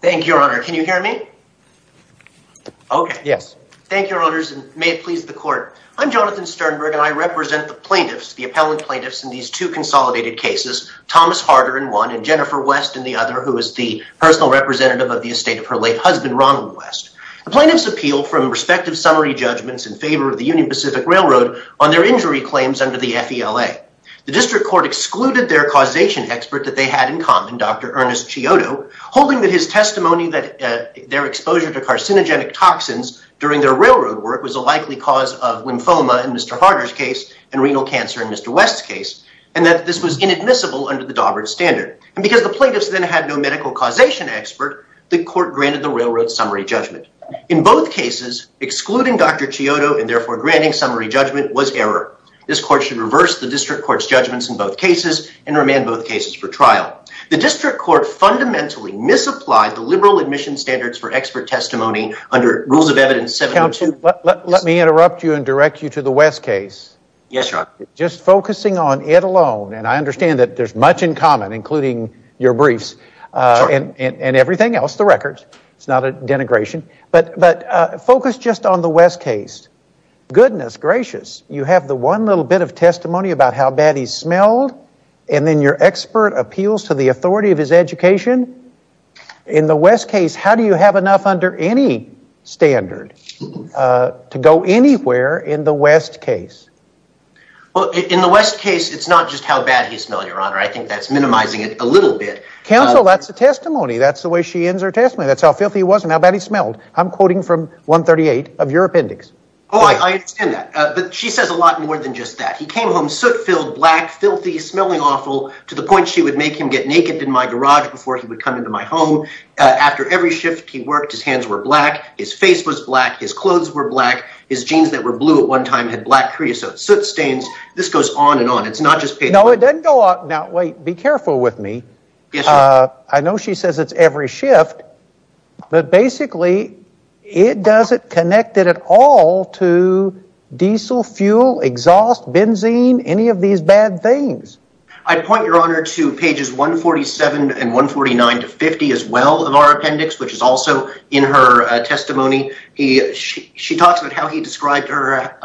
Thank you, your honor. Can you hear me? Okay. Yes. Thank you, your honors, and may it please the court. I'm Jonathan Sternberg and I represent the plaintiffs, the appellant plaintiffs, in these two consolidated cases, Thomas Harder in one and Jennifer West in the other, who is the personal representative of the estate of her late husband, Ronald West. The plaintiffs appeal from respective summary judgments in favor of the Union Pacific Railroad on their injury claims under the FELA. The district court excluded their causation expert that they had in common, Dr. Ernest Chiodo, holding that his testimony that their exposure to carcinogenic toxins during their railroad work was a likely cause of lymphoma in Mr. Harder's case and renal cancer in Mr. West's case, and that this was inadmissible under the Daubert standard. And because the plaintiffs then had no medical causation expert, the court granted the railroad summary judgment. In both cases, excluding Dr. Chiodo and therefore granting summary judgment was error. This court should reverse the district court's judgments in both cases and remand both cases for trial. The district court fundamentally misapplied the liberal admission standards for expert testimony under Rules of Evidence 72. Let me interrupt you and direct you to the West case. Yes, your honor. Just focusing on it alone, and I understand that there's much in common, including your briefs and everything else, the records, it's not a denigration, but focus just on the West case. Goodness gracious, you have the one little bit of testimony about how bad he smelled, and then your expert appeals to the authority of his education. In the West case, how do you have enough under any standard to go anywhere in the West case? Well, in the West case, it's not just how bad he smelled, your honor. I think that's minimizing it a little bit. Counsel, that's a testimony. That's the way she ends her testimony. That's how filthy he was and how bad he smelled. I'm quoting from 138 of your appendix. Oh, I understand that, but she says a lot more than just that. He came home soot-filled, black, filthy, smelling awful, to the point she would make him get naked in my garage before he would come into my home. After every shift he worked, his hands were black, his face was black, his clothes were black, his jeans that were blue at one time had black creosote soot stains. This goes on and on. It's not just paid for. No, it doesn't go on. Now, wait, be careful with me. I know she says it's every shift, but basically it doesn't connect it at all to diesel, fuel, exhaust, benzene, any of these bad things. I'd point your honor to pages 147 and 149 to 50 as well of our appendix, which is also in her testimony. She talks about how he described her,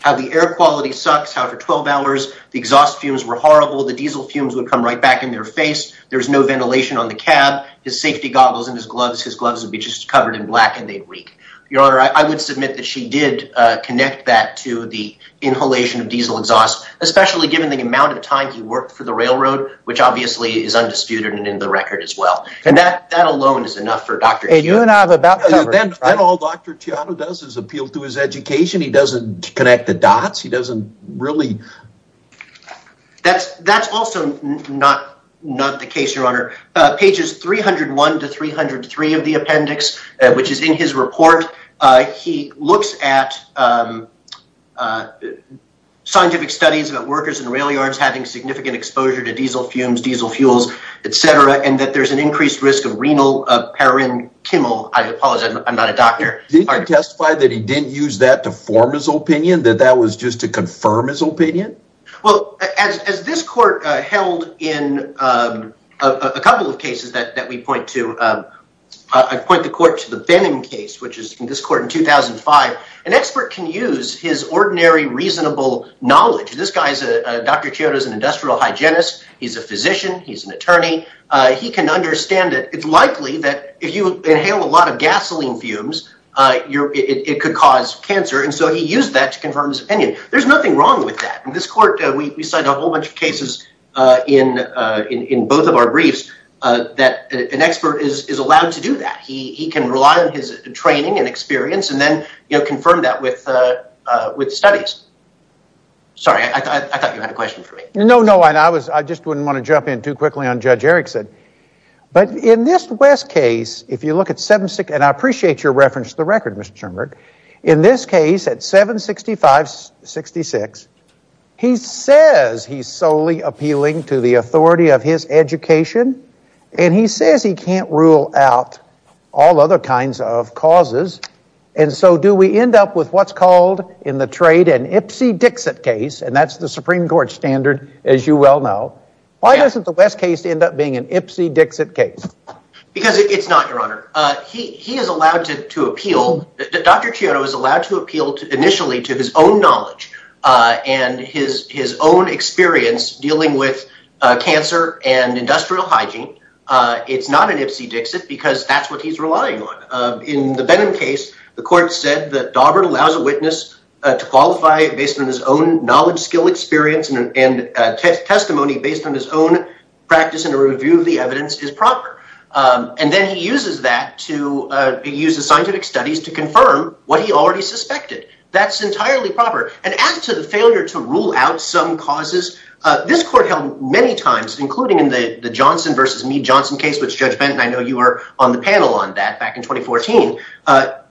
how the air quality sucks, how for 12 hours the exhaust fumes were horrible, the diesel fumes would come right back in their face, there's no ventilation on the cab, his safety goggles and his gloves would be just covered in black and they'd reek. Your honor, I would submit that she did connect that to the inhalation of diesel exhaust, especially given the amount of time he worked for the railroad, which obviously is undisputed and in the record as well. That alone is enough for Dr. Teato. You and I have about covered it. Then all Dr. Teato does is appeal to his education. He doesn't connect the dots. He doesn't really... That's also not the case, your honor. Pages 301 to 303 of the appendix, which is in his report, he looks at scientific studies about workers in rail yards having significant exposure to diesel fumes, diesel fuels, et cetera, and that there's an increased risk of renal parurin, I apologize, I'm not a doctor. Did he testify that he didn't use that to form his opinion, that that was just to confirm his opinion? Well, as this court held in a couple of cases that we point to, I'd point the court to the Benham case, which is in this court in 2005. An expert can use his ordinary reasonable knowledge. This guy, Dr. Teato is an industrial hygienist. He's a physician. He's an attorney. He can understand it. It's likely that if you inhale a lot of gasoline fumes, it could cause cancer, and so he used that to confirm his opinion. There's nothing wrong with that. In this court, we cite a whole bunch of cases in both of our briefs that an expert is allowed to do that. He can rely on his training and experience and then confirm that with studies. Sorry, I thought you had a question for me. No, no, I just wouldn't want to jump in too quickly on Judge Erickson. But in this West case, if you look at 766, and I appreciate your reference to the record, Mr. Sternberg, in this case at 765-66, he says he's solely appealing to the authority of his education and he says he can't rule out all other kinds of causes, and so do we end up with what's called in the trade an Ipsy-Dixit case, and that's the Supreme Court standard, as you well know. Why doesn't the West case end up being an Ipsy-Dixit case? Because it's not, Your Honor. He is allowed to appeal. Dr. Chiodo is allowed to appeal initially to his own knowledge and his own experience dealing with cancer and industrial hygiene. It's not an Ipsy-Dixit because that's what he's relying on. In the Benham case, the court said that Daubert allows a witness to qualify based on his own knowledge, skill, experience, and testimony based on his own practice and a review of the evidence is proper. And then he uses that to use the scientific studies to confirm what he already suspected. That's entirely proper. And as to the failure to rule out some causes, this court held many times, including in the Johnson v. Mead-Johnson case, which Judge Benton, I know you were on the panel on that back in 2014.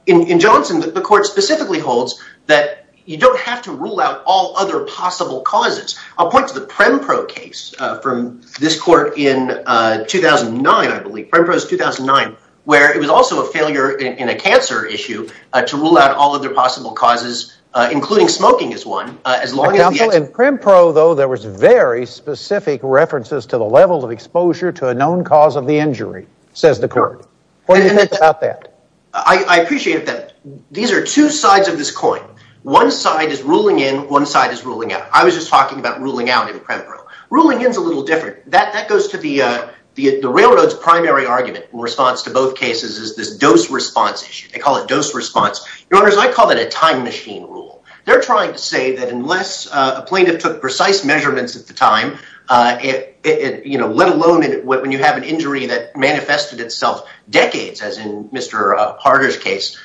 In Johnson, the court specifically holds that you don't have to rule out all other possible causes. I'll point to the Prempro case from this court in 2009, I believe. Prempro is 2009, where it was also a failure in a cancer issue to rule out all other possible causes, including smoking as one, as long as the... In Prempro, though, there was very specific references to the level of exposure to a known cause of the injury, says the court. What do you think about that? I appreciate that. These are two sides of this coin. One side is ruling in, one side is ruling out. I was just talking about ruling out in Prempro. Ruling in is a little different. That goes to the railroad's primary argument in response to both cases is this dose response issue. They call it dose response. Your Honors, I call that a time machine rule. They're trying to say that unless a plaintiff took precise measurements at the time, let alone when you have an injury that manifested itself decades, as in Mr. Harder's case,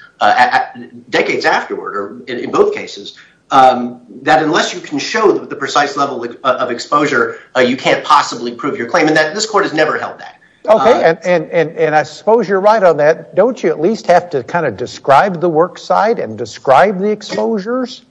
decades afterward, or in both cases, that unless you can show the precise level of exposure, you can't possibly prove your claim. This court has never held that. Okay. I suppose you're right on that. Don't you at least have to describe the work side and describe the exposures?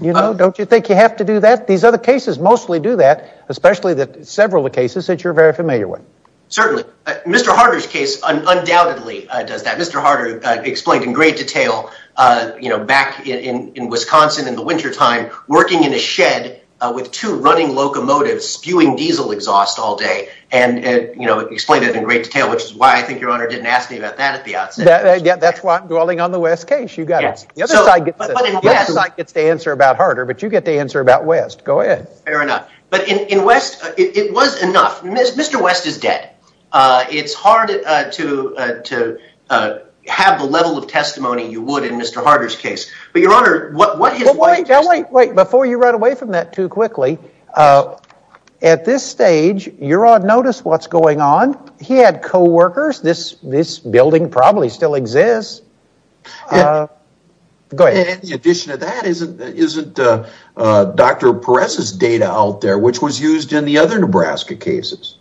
Don't you think you have to do that? These other cases mostly do that, especially several of the cases that you're very familiar with. Certainly. Mr. Harder's case undoubtedly does that. Mr. Harder explained in great detail back in Wisconsin in the wintertime, working in a shed with two running locomotives spewing diesel exhaust all day and explained it in great detail, which is why I think your Honor didn't ask me about that at the outset. That's why I'm calling on the West case. You got it. The other side gets to answer about Harder, but you get to answer about West. Go ahead. Fair enough. But in West, it was enough. Mr. West is dead. It's hard to have the level of testimony you would in Mr. Harder's case. But your Honor, what his... Well, wait. Before you run away from that too quickly, at this stage, your Honor noticed what's going on. He had co-workers. This building probably still exists. Go ahead. In addition to that, isn't Dr. Perez's data out there, which was used in the other Nebraska cases?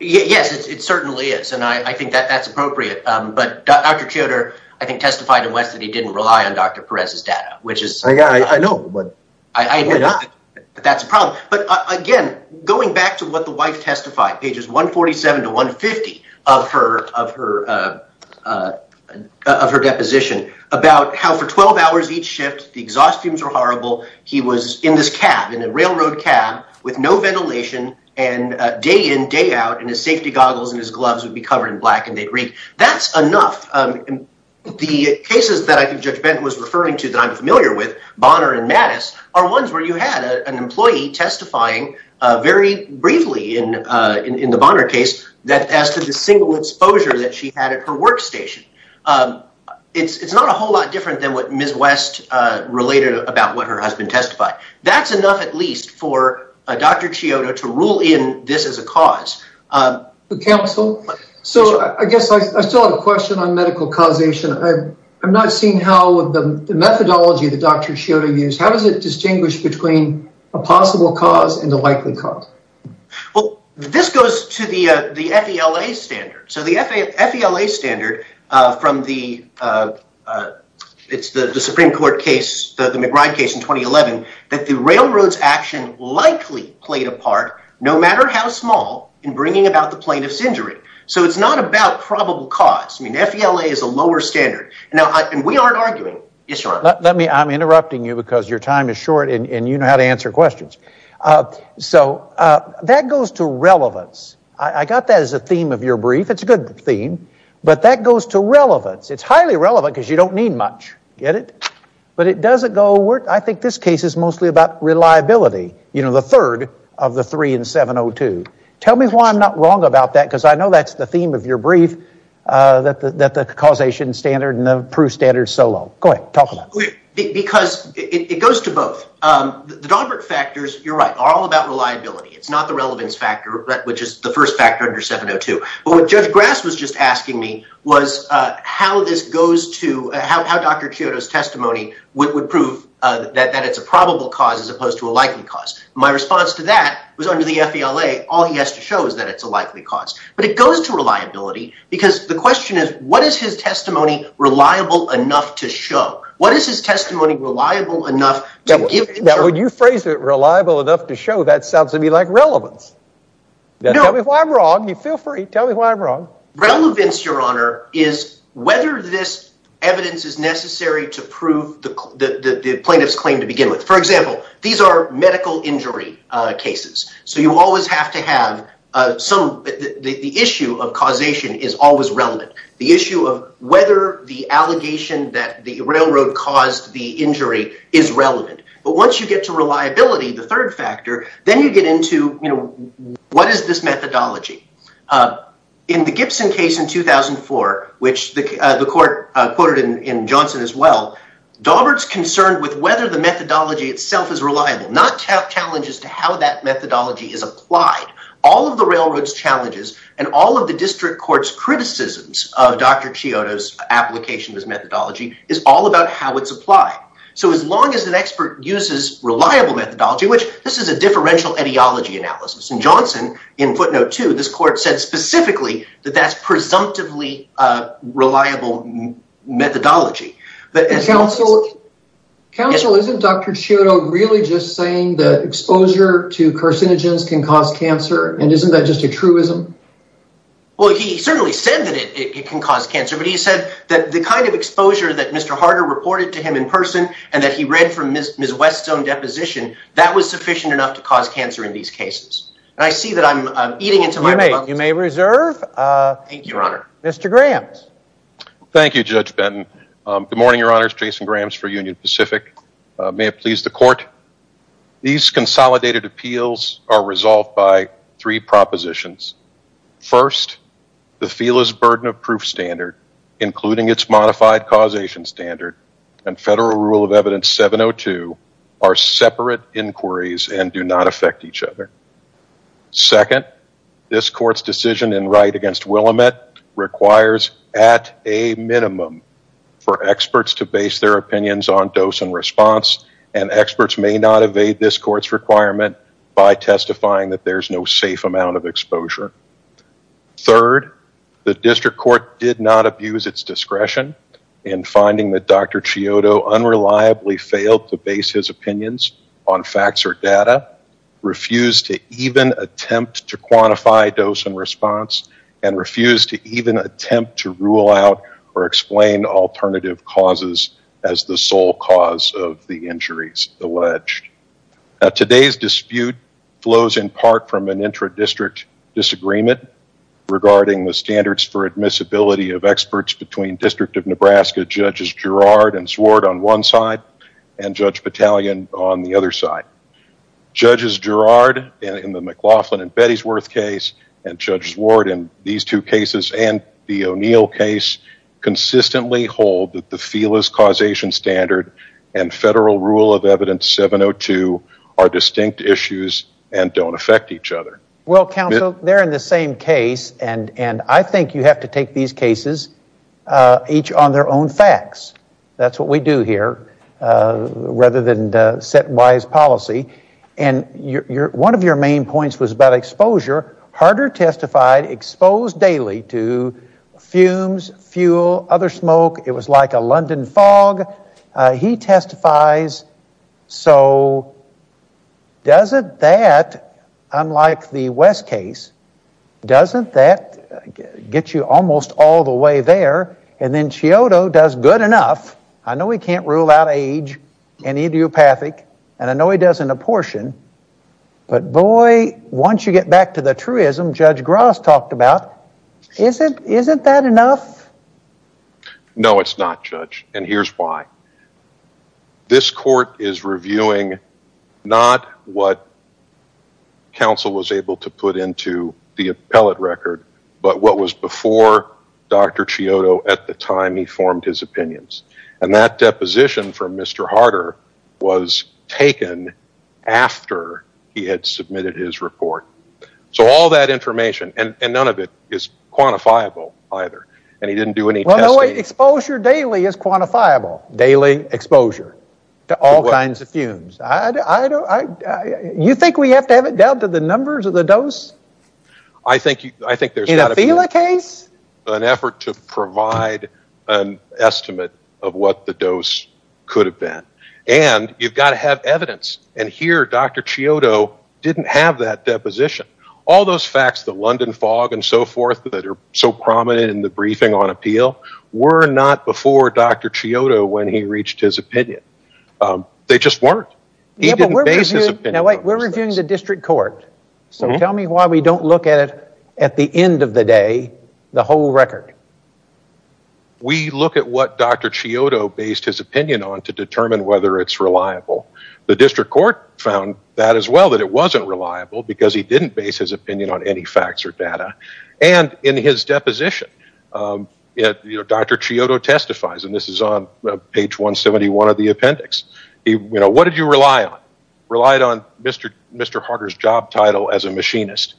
Yes, it certainly is, and I think that that's appropriate. But Dr. Choder, I think, testified in West that he didn't rely on Dr. Perez's data, which is... I know, but why not? That's a problem. But again, going back to what the wife testified, pages 147 to 150 of her deposition about how for 12 hours each shift, the exhaust fumes were horrible. He was in this cab, in a railroad cab with no ventilation, and day in, day out, and his safety goggles and his gloves would be covered in black and they'd reek. That's enough. The cases that I think Judge Benton was referring to that I'm familiar with, Bonner and Mattis, are ones where you had an employee testifying very briefly in the Bonner case as to the single exposure that she had at her workstation. It's not a whole lot different than what Ms. West related about what her husband testified. That's enough, at least, for Dr. Choder to rule in this as a cause. Counsel, so I guess I still have a question on medical causation. I'm not seeing with the methodology that Dr. Choder used, how does it distinguish between a possible cause and a likely cause? Well, this goes to the FELA standard. So the FELA standard from the Supreme Court case, the McBride case in 2011, that the railroad's action likely played a part, no matter how small, in bringing about the plaintiff's injury. So it's not about probable cause. I mean, FELA is a lower standard. And we aren't arguing. I'm interrupting you because your time is short, and you know how to answer questions. So that goes to relevance. I got that as a theme of your brief. It's a good theme. But that goes to relevance. It's highly relevant because you don't need much. Get it? But it doesn't go, I think this case is mostly about reliability. You know, the third of the three in 702. Tell me why I'm not wrong about that, because I know that's the theme of your brief, that the causation standard and the proof standard is so low. Go ahead. Talk about it. Because it goes to both. The Dalbert factors, you're right, are all about reliability. It's not the relevance factor, which is the first factor under 702. But what Judge Grass was just asking me was how this goes to, how Dr. Choder's testimony would prove that it's a probable cause as opposed to a likely cause. My response to that was under the FELA, all he has to show is that it's a likely cause. But it goes to reliability because the question is, what is his testimony reliable enough to show? What is his testimony reliable enough to give? Now when you phrase it reliable enough to show, that sounds to me like relevance. Tell me why I'm wrong. You feel free. Tell me why I'm wrong. Relevance, your honor, is whether this evidence is necessary to prove the plaintiff's claim to begin with. For example, these are medical injury cases. So you always have to have some, the issue of causation is always relevant. The issue of whether the allegation that the railroad caused the injury is relevant. But once you get to reliability, the third factor, then you get into what is this methodology. In the Gibson case in 2004, which the court quoted in Johnson as well, Dalbert's whether the methodology itself is reliable, not challenges to how that methodology is applied. All of the railroad's challenges and all of the district court's criticisms of Dr. Chiodo's application of this methodology is all about how it's applied. So as long as an expert uses reliable methodology, which this is a differential etiology analysis. In Johnson, in footnote two, this court said specifically that that's presumptively reliable methodology. Counsel, isn't Dr. Chiodo really just saying that exposure to carcinogens can cause cancer, and isn't that just a truism? Well, he certainly said that it can cause cancer, but he said that the kind of exposure that Mr. Harder reported to him in person and that he read from Ms. West's own deposition, that was sufficient enough to cause cancer in these cases. And I see that I'm eating into my... You may reserve. Thank you, your honor. Mr. Graham. Thank you, Judge Benton. Good morning, your honors. Jason Grahams for Union Pacific. May it please the court. These consolidated appeals are resolved by three propositions. First, the FELA's burden of proof standard, including its modified causation standard and federal rule of evidence 702 are separate inquiries and do not affect each other. Second, this court's decision in right against Willamette requires at a minimum for experts to base their opinions on dose and response, and experts may not evade this court's requirement by testifying that there's no safe amount of exposure. Third, the district court did not abuse its discretion in finding that Dr. Chiodo unreliably failed to base his opinions on facts or data, refused to even attempt to quantify dose and response, and refused to even attempt to rule out or explain alternative causes as the sole cause of the injuries alleged. Today's dispute flows in part from an intra-district disagreement regarding the standards for admissibility of experts between District of Nebraska Judges Girard and Swart on one side and Judge Battalion on the other side. Judges Girard in the McLaughlin and Bettysworth case and Judges Ward in these two cases and the O'Neill case consistently hold that the FELA's causation standard and federal rule of evidence 702 are distinct issues and don't affect each other. Well, counsel, they're in the same case and I think you have to take these cases each on their own facts. That's what we do here rather than set wise policy. And one of your main points was about exposure. Harder testified exposed daily to fumes, fuel, other smoke. It was like a London fog. He testifies. So doesn't that, unlike the West case, doesn't that get you almost all the way there? And then Chiodo does good enough. I know he can't rule out age and idiopathic and I know he does an apportion, but boy, once you get back to the truism Judge Gross talked about, isn't that enough? No, it's not, Judge, and here's why. This court is reviewing not what counsel was able to put into the appellate record, but what was before Dr. Chiodo at the time he formed his opinions. And that deposition from Mr. Harder was taken after he had submitted his report. So all that information, and none of it is quantifiable either, and he didn't do any testing. Exposure daily is quantifiable. Daily exposure to all kinds of fumes. I don't, I, you think we have to have it down to the numbers of the dose? I think, I think there's got to be an effort to provide an estimate of what the dose could have been. And you've got to have evidence. And here, Dr. Chiodo didn't have that deposition. All those facts, the London fog and so forth that are so prominent in the briefing on appeal were not before Dr. Chiodo when he reached his opinion. They just weren't. He didn't base his opinion on those facts. Now wait, we're reviewing the district court, so tell me why we don't look at it at the end of the day, the whole record. We look at what Dr. Chiodo based his opinion on to determine whether it's reliable. The district court found that as well, that it wasn't reliable because he didn't base his opinion on any facts or data. And in his deposition, Dr. Chiodo testifies, and this is on page 171 of the appendix. He, you know, what did you rely on? Relied on Mr. Harder's job title as a machinist.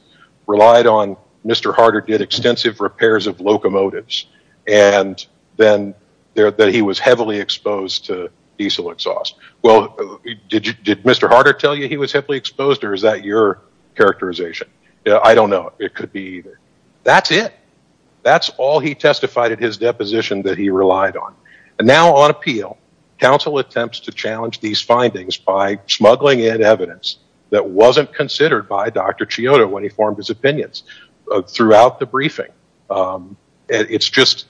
Relied on Mr. Harder did extensive repairs of locomotives. And then there, that he was heavily exposed to diesel exhaust. Well, did you, did Mr. Harder tell you he was heavily exposed, or is that your characterization? Yeah, I don't know. It could be either. That's it. That's all he testified at his deposition that he relied on. And now on appeal, counsel attempts to challenge these findings by smuggling in evidence that wasn't considered by Dr. Chiodo when he formed his opinions throughout the briefing. It's just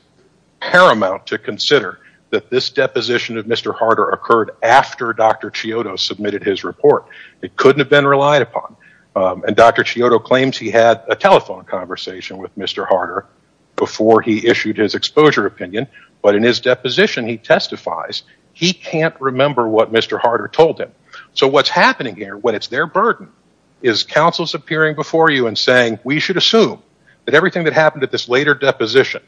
paramount to consider that this deposition of Mr. Harder occurred after Dr. Chiodo submitted his report. It couldn't have been relied upon. And Dr. Chiodo claims he had a telephone conversation with Mr. Harder before he issued his exposure opinion. But in his deposition, he testifies he can't remember what Mr. Harder told him. So what's happening here, when it's their burden, is counsel's appearing before you and saying, we should assume that everything that happened at this later deposition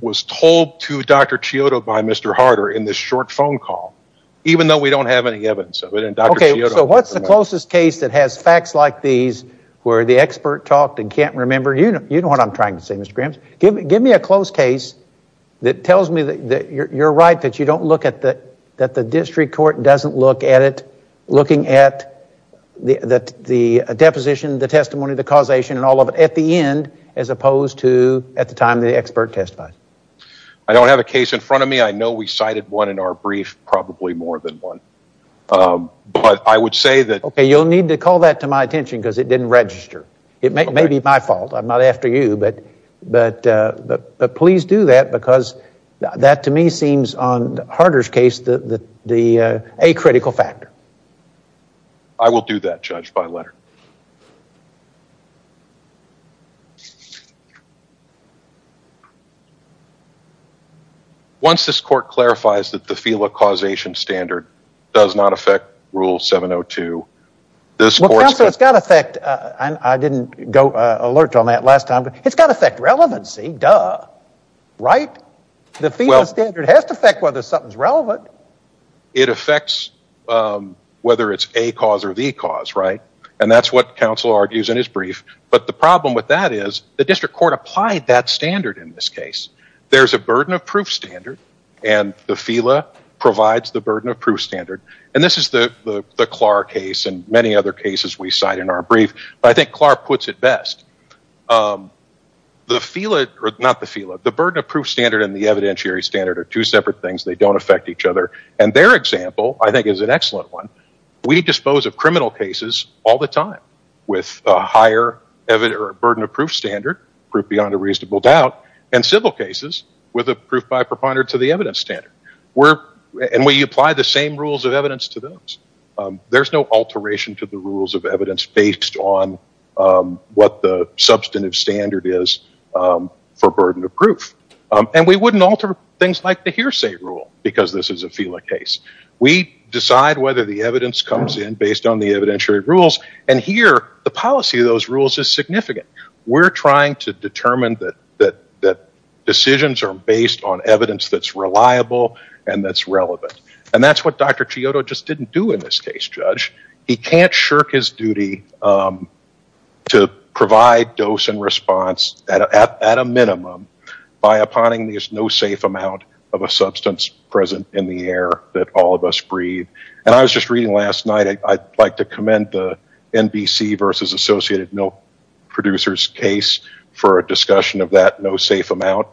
was told to Dr. Chiodo by Mr. Harder in this short phone call, even though we don't have any evidence of it. Okay, so what's the closest case that has facts like these, where the expert talked and can't remember? You know, you know what I'm trying to say, Mr. Grahams. Give me a close case that tells me that you're right, that you don't look at that, that the district court doesn't look at it, looking at the deposition, the testimony, the causation, and all of it at the end, as opposed to at the time the expert testified. I don't have a case in front of me. I know we cited one in our brief, probably more than one. But I would say that... Okay, you'll need to call that to my attention, because it didn't register. It may be my fault. I'm not after you. But please do that, because that to me seems, on Harder's case, a critical factor. I will do that, Judge Bylatter. Once this court clarifies that the FELA causation standard does not affect Rule 702, this court's... Well, counsel, it's got to affect... I didn't go alert on that last time, but it's got to affect relevancy, duh. Right? The FELA standard has to affect whether something's whether it's a cause or the cause, right? And that's what counsel argues in his brief. But the problem with that is the district court applied that standard in this case. There's a burden of proof standard, and the FELA provides the burden of proof standard. And this is the Clark case and many other cases we cite in our brief. I think Clark puts it best. The FELA... Not the FELA. The burden of proof standard and the evidentiary standard are two excellent ones. We dispose of criminal cases all the time with a higher burden of proof standard, proof beyond a reasonable doubt, and civil cases with a proof by preponderance of the evidence standard. And we apply the same rules of evidence to those. There's no alteration to the rules of evidence based on what the substantive standard is for burden of proof. And we wouldn't alter things like the hearsay rule because this is a FELA case. We decide whether the evidence comes in based on the evidentiary rules. And here the policy of those rules is significant. We're trying to determine that decisions are based on evidence that's reliable and that's relevant. And that's what Dr. Chiodo just didn't do in this case, Judge. He can't shirk his duty to provide dose and response at a minimum by applying this no safe amount of a substance present in the air that all of us breathe. And I was just reading last night, I'd like to commend the NBC versus Associated Milk Producers case for a discussion of that no safe amount.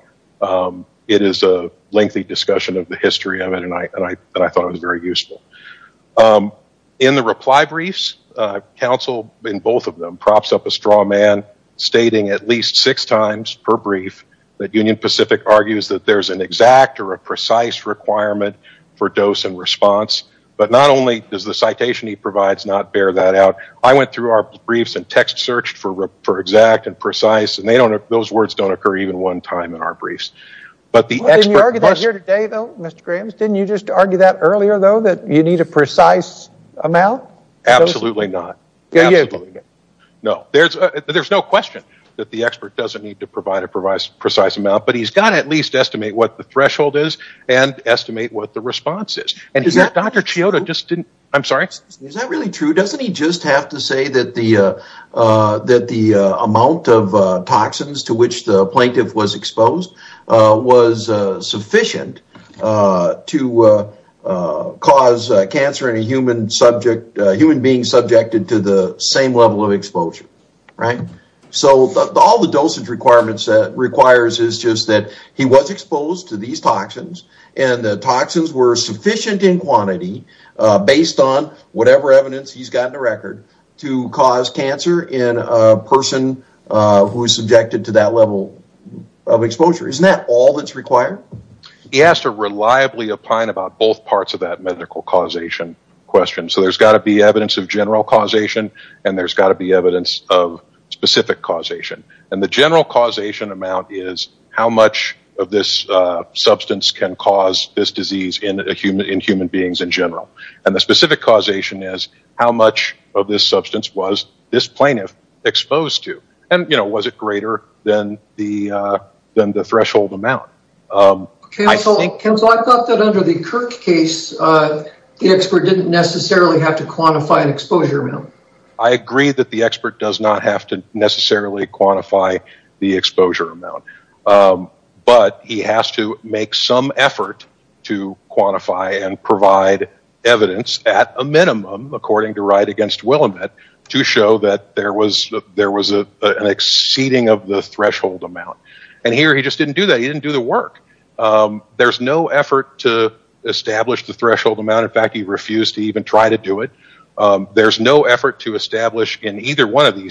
It is a lengthy discussion of the history of it and I thought it was very useful. In the reply briefs, counsel in both of them props up a straw man stating at least six times per brief that Union Pacific argues that there's an exact or a precise requirement for dose and response. But not only does the citation he provides not bear that out, I went through our briefs and text searched for exact and precise and those words don't occur even one time in our briefs. But the expert... Didn't you argue that here today, though, Mr. Grims? Didn't you just argue that earlier, that you need a precise amount? Absolutely not. No, there's no question that the expert doesn't need to provide a precise amount, but he's got to at least estimate what the threshold is and estimate what the response is. Dr. Chioda just didn't... I'm sorry. Is that really true? Doesn't he just have to say that the amount of toxins to which the plaintiff was exposed was sufficient to cause cancer in a human being subjected to the same level of exposure? So all the dosage requirements that requires is just that he was exposed to these toxins and the toxins were sufficient in quantity based on whatever evidence he's got in the record to cause cancer in a person who is subjected to that level of exposure. Isn't that all that's required? He has to reliably opine about both parts of that medical causation question. So there's got to be evidence of general causation and there's got to be evidence of specific causation. And the general causation amount is how much of this substance can cause this disease in human beings in general. And the specific causation is how much of this substance was this plaintiff exposed to? And was it greater than the threshold amount? Kenzo, I thought that under the Kirk case, the expert didn't necessarily have to quantify an exposure amount. I agree that the expert does not have to necessarily quantify the exposure amount, but he has to make some effort to quantify and provide evidence at a minimum, according to Wright against Willamette, to show that there was an exceeding of the threshold amount. And here he just didn't do that. He didn't do the work. There's no effort to establish the threshold amount. In fact, he refused to even try to do it. There's no effort to establish in either one of them.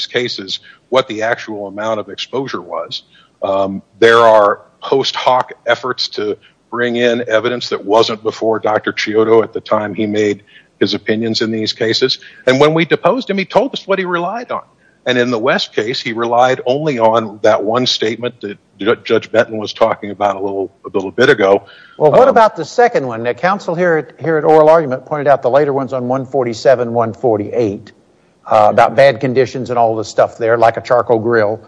There are post hoc efforts to bring in evidence that wasn't before Dr. Chiodo at the time he made his opinions in these cases. And when we deposed him, he told us what he relied on. And in the West case, he relied only on that one statement that Judge Benton was talking about a little bit ago. Well, what about the second one? The counsel here at Oral Argument pointed out the later ones on 147, 148 about bad conditions and all this stuff there, like a charcoal grill.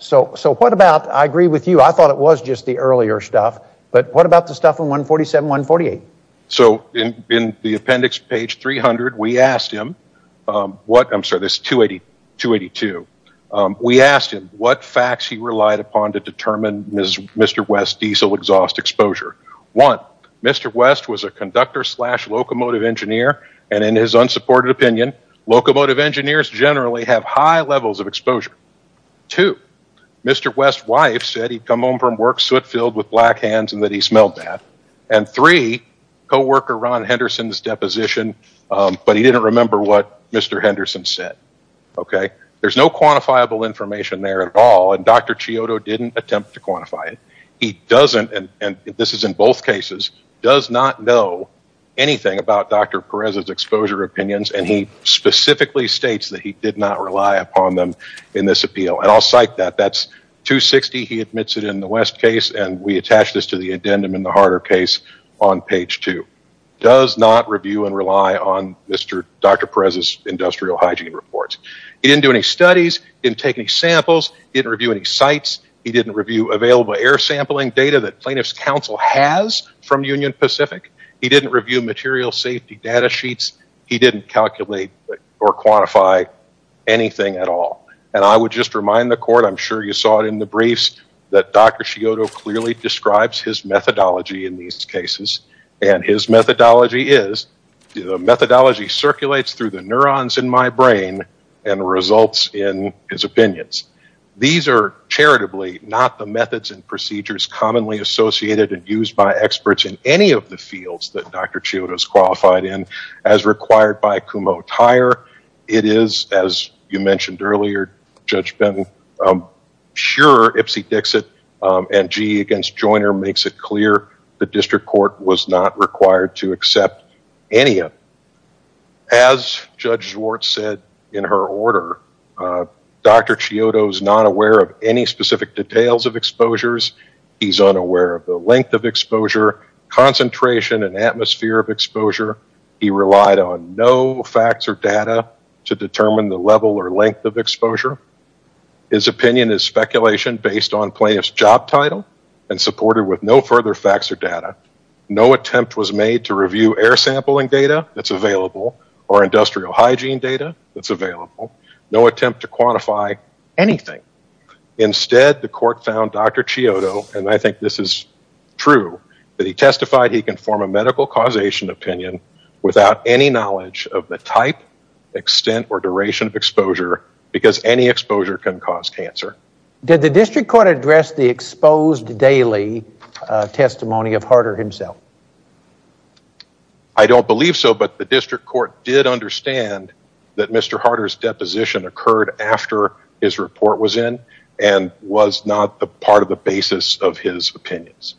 So what about, I agree with you, I thought it was just the earlier stuff, but what about the stuff on 147, 148? So in the appendix, page 300, we asked him what, I'm sorry, this 282, we asked him what facts he relied upon to determine Mr. West's diesel exhaust exposure. One, Mr. West was a conductor slash locomotive engineer, and in his unsupported opinion, locomotive engineers generally have high levels of exposure. Two, Mr. West's wife said he'd come home from work soot-filled with black hands and that he smelled bad. And three, co-worker Ron Henderson's deposition, but he didn't remember what Mr. Henderson said. Okay. There's no quantifiable information there at all. And Dr. Chiodo didn't attempt to quantify it. He doesn't, and this is in both cases, does not know anything about Dr. Perez's exposure opinions. And he specifically states that he did not rely upon them in this appeal. And I'll cite that. That's 260, he admits it in the West case, and we attach this to the addendum in the Harder case on page two. Does not review and rely on Mr. Dr. Perez's industrial hygiene reports. He didn't do any studies, didn't take any samples, didn't review any sites, he didn't review available air sampling data that plaintiff's counsel has from Union Pacific. He didn't review material safety data sheets. He didn't calculate or quantify anything at all. And I would just remind the court, I'm sure you saw it in the briefs, that Dr. Chiodo clearly describes his methodology in these cases. And his methodology is, the methodology circulates through the neurons in my brain and results in his opinions. These are charitably not the methods and procedures commonly associated and used by experts in any of the It is, as you mentioned earlier, Judge Benton, I'm sure Ipsy Dixit and GE against Joyner makes it clear the district court was not required to accept any of them. As Judge Schwartz said in her order, Dr. Chiodo's not aware of any specific details of exposures. He's unaware of the length of exposure, concentration, and atmosphere of exposure. He relied on no facts or data to determine the level or length of exposure. His opinion is speculation based on plaintiff's job title and supported with no further facts or data. No attempt was made to review air sampling data that's available or industrial hygiene data that's available. No attempt to quantify anything. Instead, the court found Dr. Chiodo, and I think this is true, that he testified he can form a medical causation opinion without any knowledge of the type, extent, or duration of exposure because any exposure can cause cancer. Did the district court address the exposed daily testimony of Harder himself? I don't believe so, but the district court did understand that Mr. Harder's deposition occurred after his report was in and was not the part of the basis of his opinions.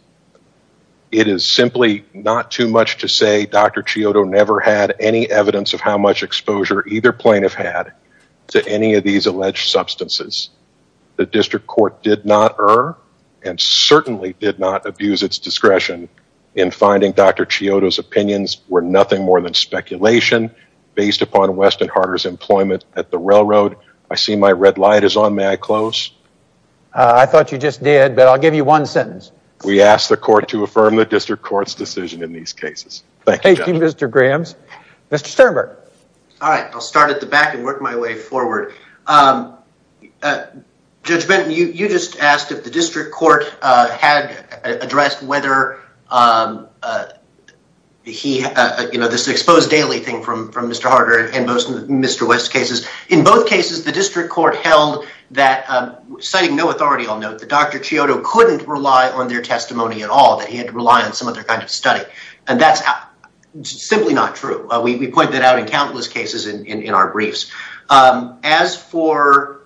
It is simply not too much to say Dr. Chiodo never had any evidence of how much exposure either plaintiff had to any of these alleged substances. The district court did not err and certainly did not abuse its discretion in finding Dr. Chiodo's opinions were nothing more than speculation based upon Weston Harder's employment at the railroad. I see my red light is on. May I close? I thought you just did, but I'll give you one sentence. We ask the court to affirm the district court's decision in these cases. Thank you, Mr. Grahams. Mr. Sternberg. All right, I'll start at the back and work my way forward. Judge Benton, you just asked if the district court had addressed whether this exposed daily thing from Mr. Harder and most Mr. West's cases. In both cases, the district court held that, citing no authority, I'll note that Dr. Chiodo couldn't rely on their testimony at all, that he had to rely on some other kind of study, and that's simply not true. We point that out in countless cases in our briefs. As for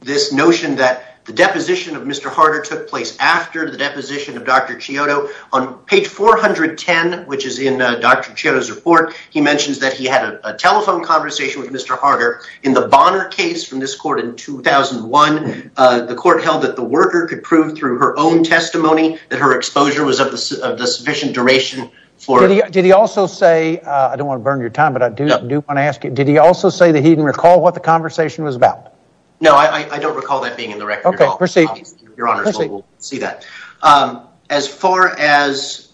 this notion that the deposition of Mr. Harder took place after the deposition of Dr. Chiodo, on page 410, which is in Dr. Chiodo's report, he mentions that he had a telephone conversation with Harder in the Bonner case from this court in 2001. The court held that the worker could prove through her own testimony that her exposure was of the sufficient duration for... Did he also say, I don't want to burn your time, but I do want to ask you, did he also say that he didn't recall what the conversation was about? No, I don't recall that being in the record. Okay, proceed. Your Honor, we'll see that. As far as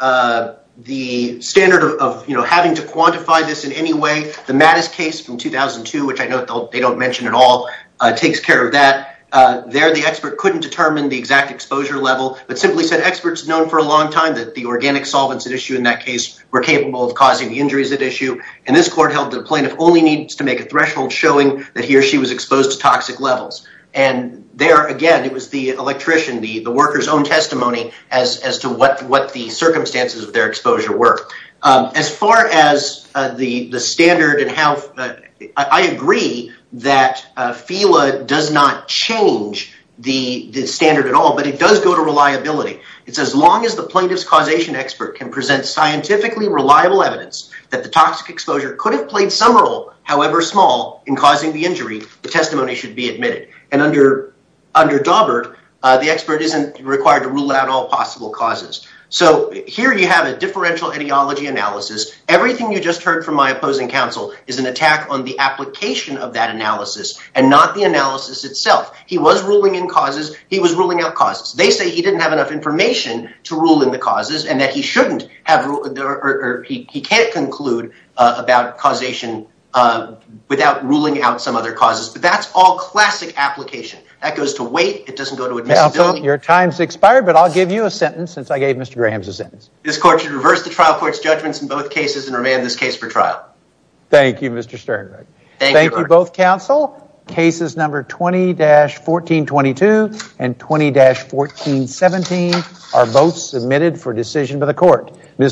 the standard of having to quantify this in any way, the Mattis case from 2002, which I know they don't mention at all, takes care of that. There, the expert couldn't determine the exact exposure level, but simply said experts known for a long time that the organic solvents at issue in that case were capable of causing the injuries at issue, and this court held that a plaintiff only needs to make a threshold showing that he or she was exposed to toxic levels. And there, again, it was the electrician, the worker's own testimony as to what the circumstances of their exposure were. As far as the standard and how... I agree that FEWA does not change the standard at all, but it does go to reliability. It says, long as the plaintiff's causation expert can present scientifically reliable evidence that the toxic exposure could have played some role, however small, in causing the injury, the testimony should be admitted. And under Daubert, the expert isn't required to rule out all possible causes. So here you have a differential ideology analysis. Everything you just heard from my opposing counsel is an attack on the application of that analysis and not the analysis itself. He was ruling in causes. He was ruling out causes. They say he didn't have enough information to rule in the causes and that he shouldn't have... or he can't conclude about causation without ruling out some other causes. But that's all classic application. That goes to wait. It doesn't go to admissibility. Counsel, your time's expired, but I'll give you a sentence since I gave Mr. Graham's a sentence. This court should reverse the trial court's judgments in both cases and remand this case for trial. Thank you, Mr. Sternberg. Thank you, both counsel. Cases number 20-1422 and 20-1417 are both submitted for decision by the court.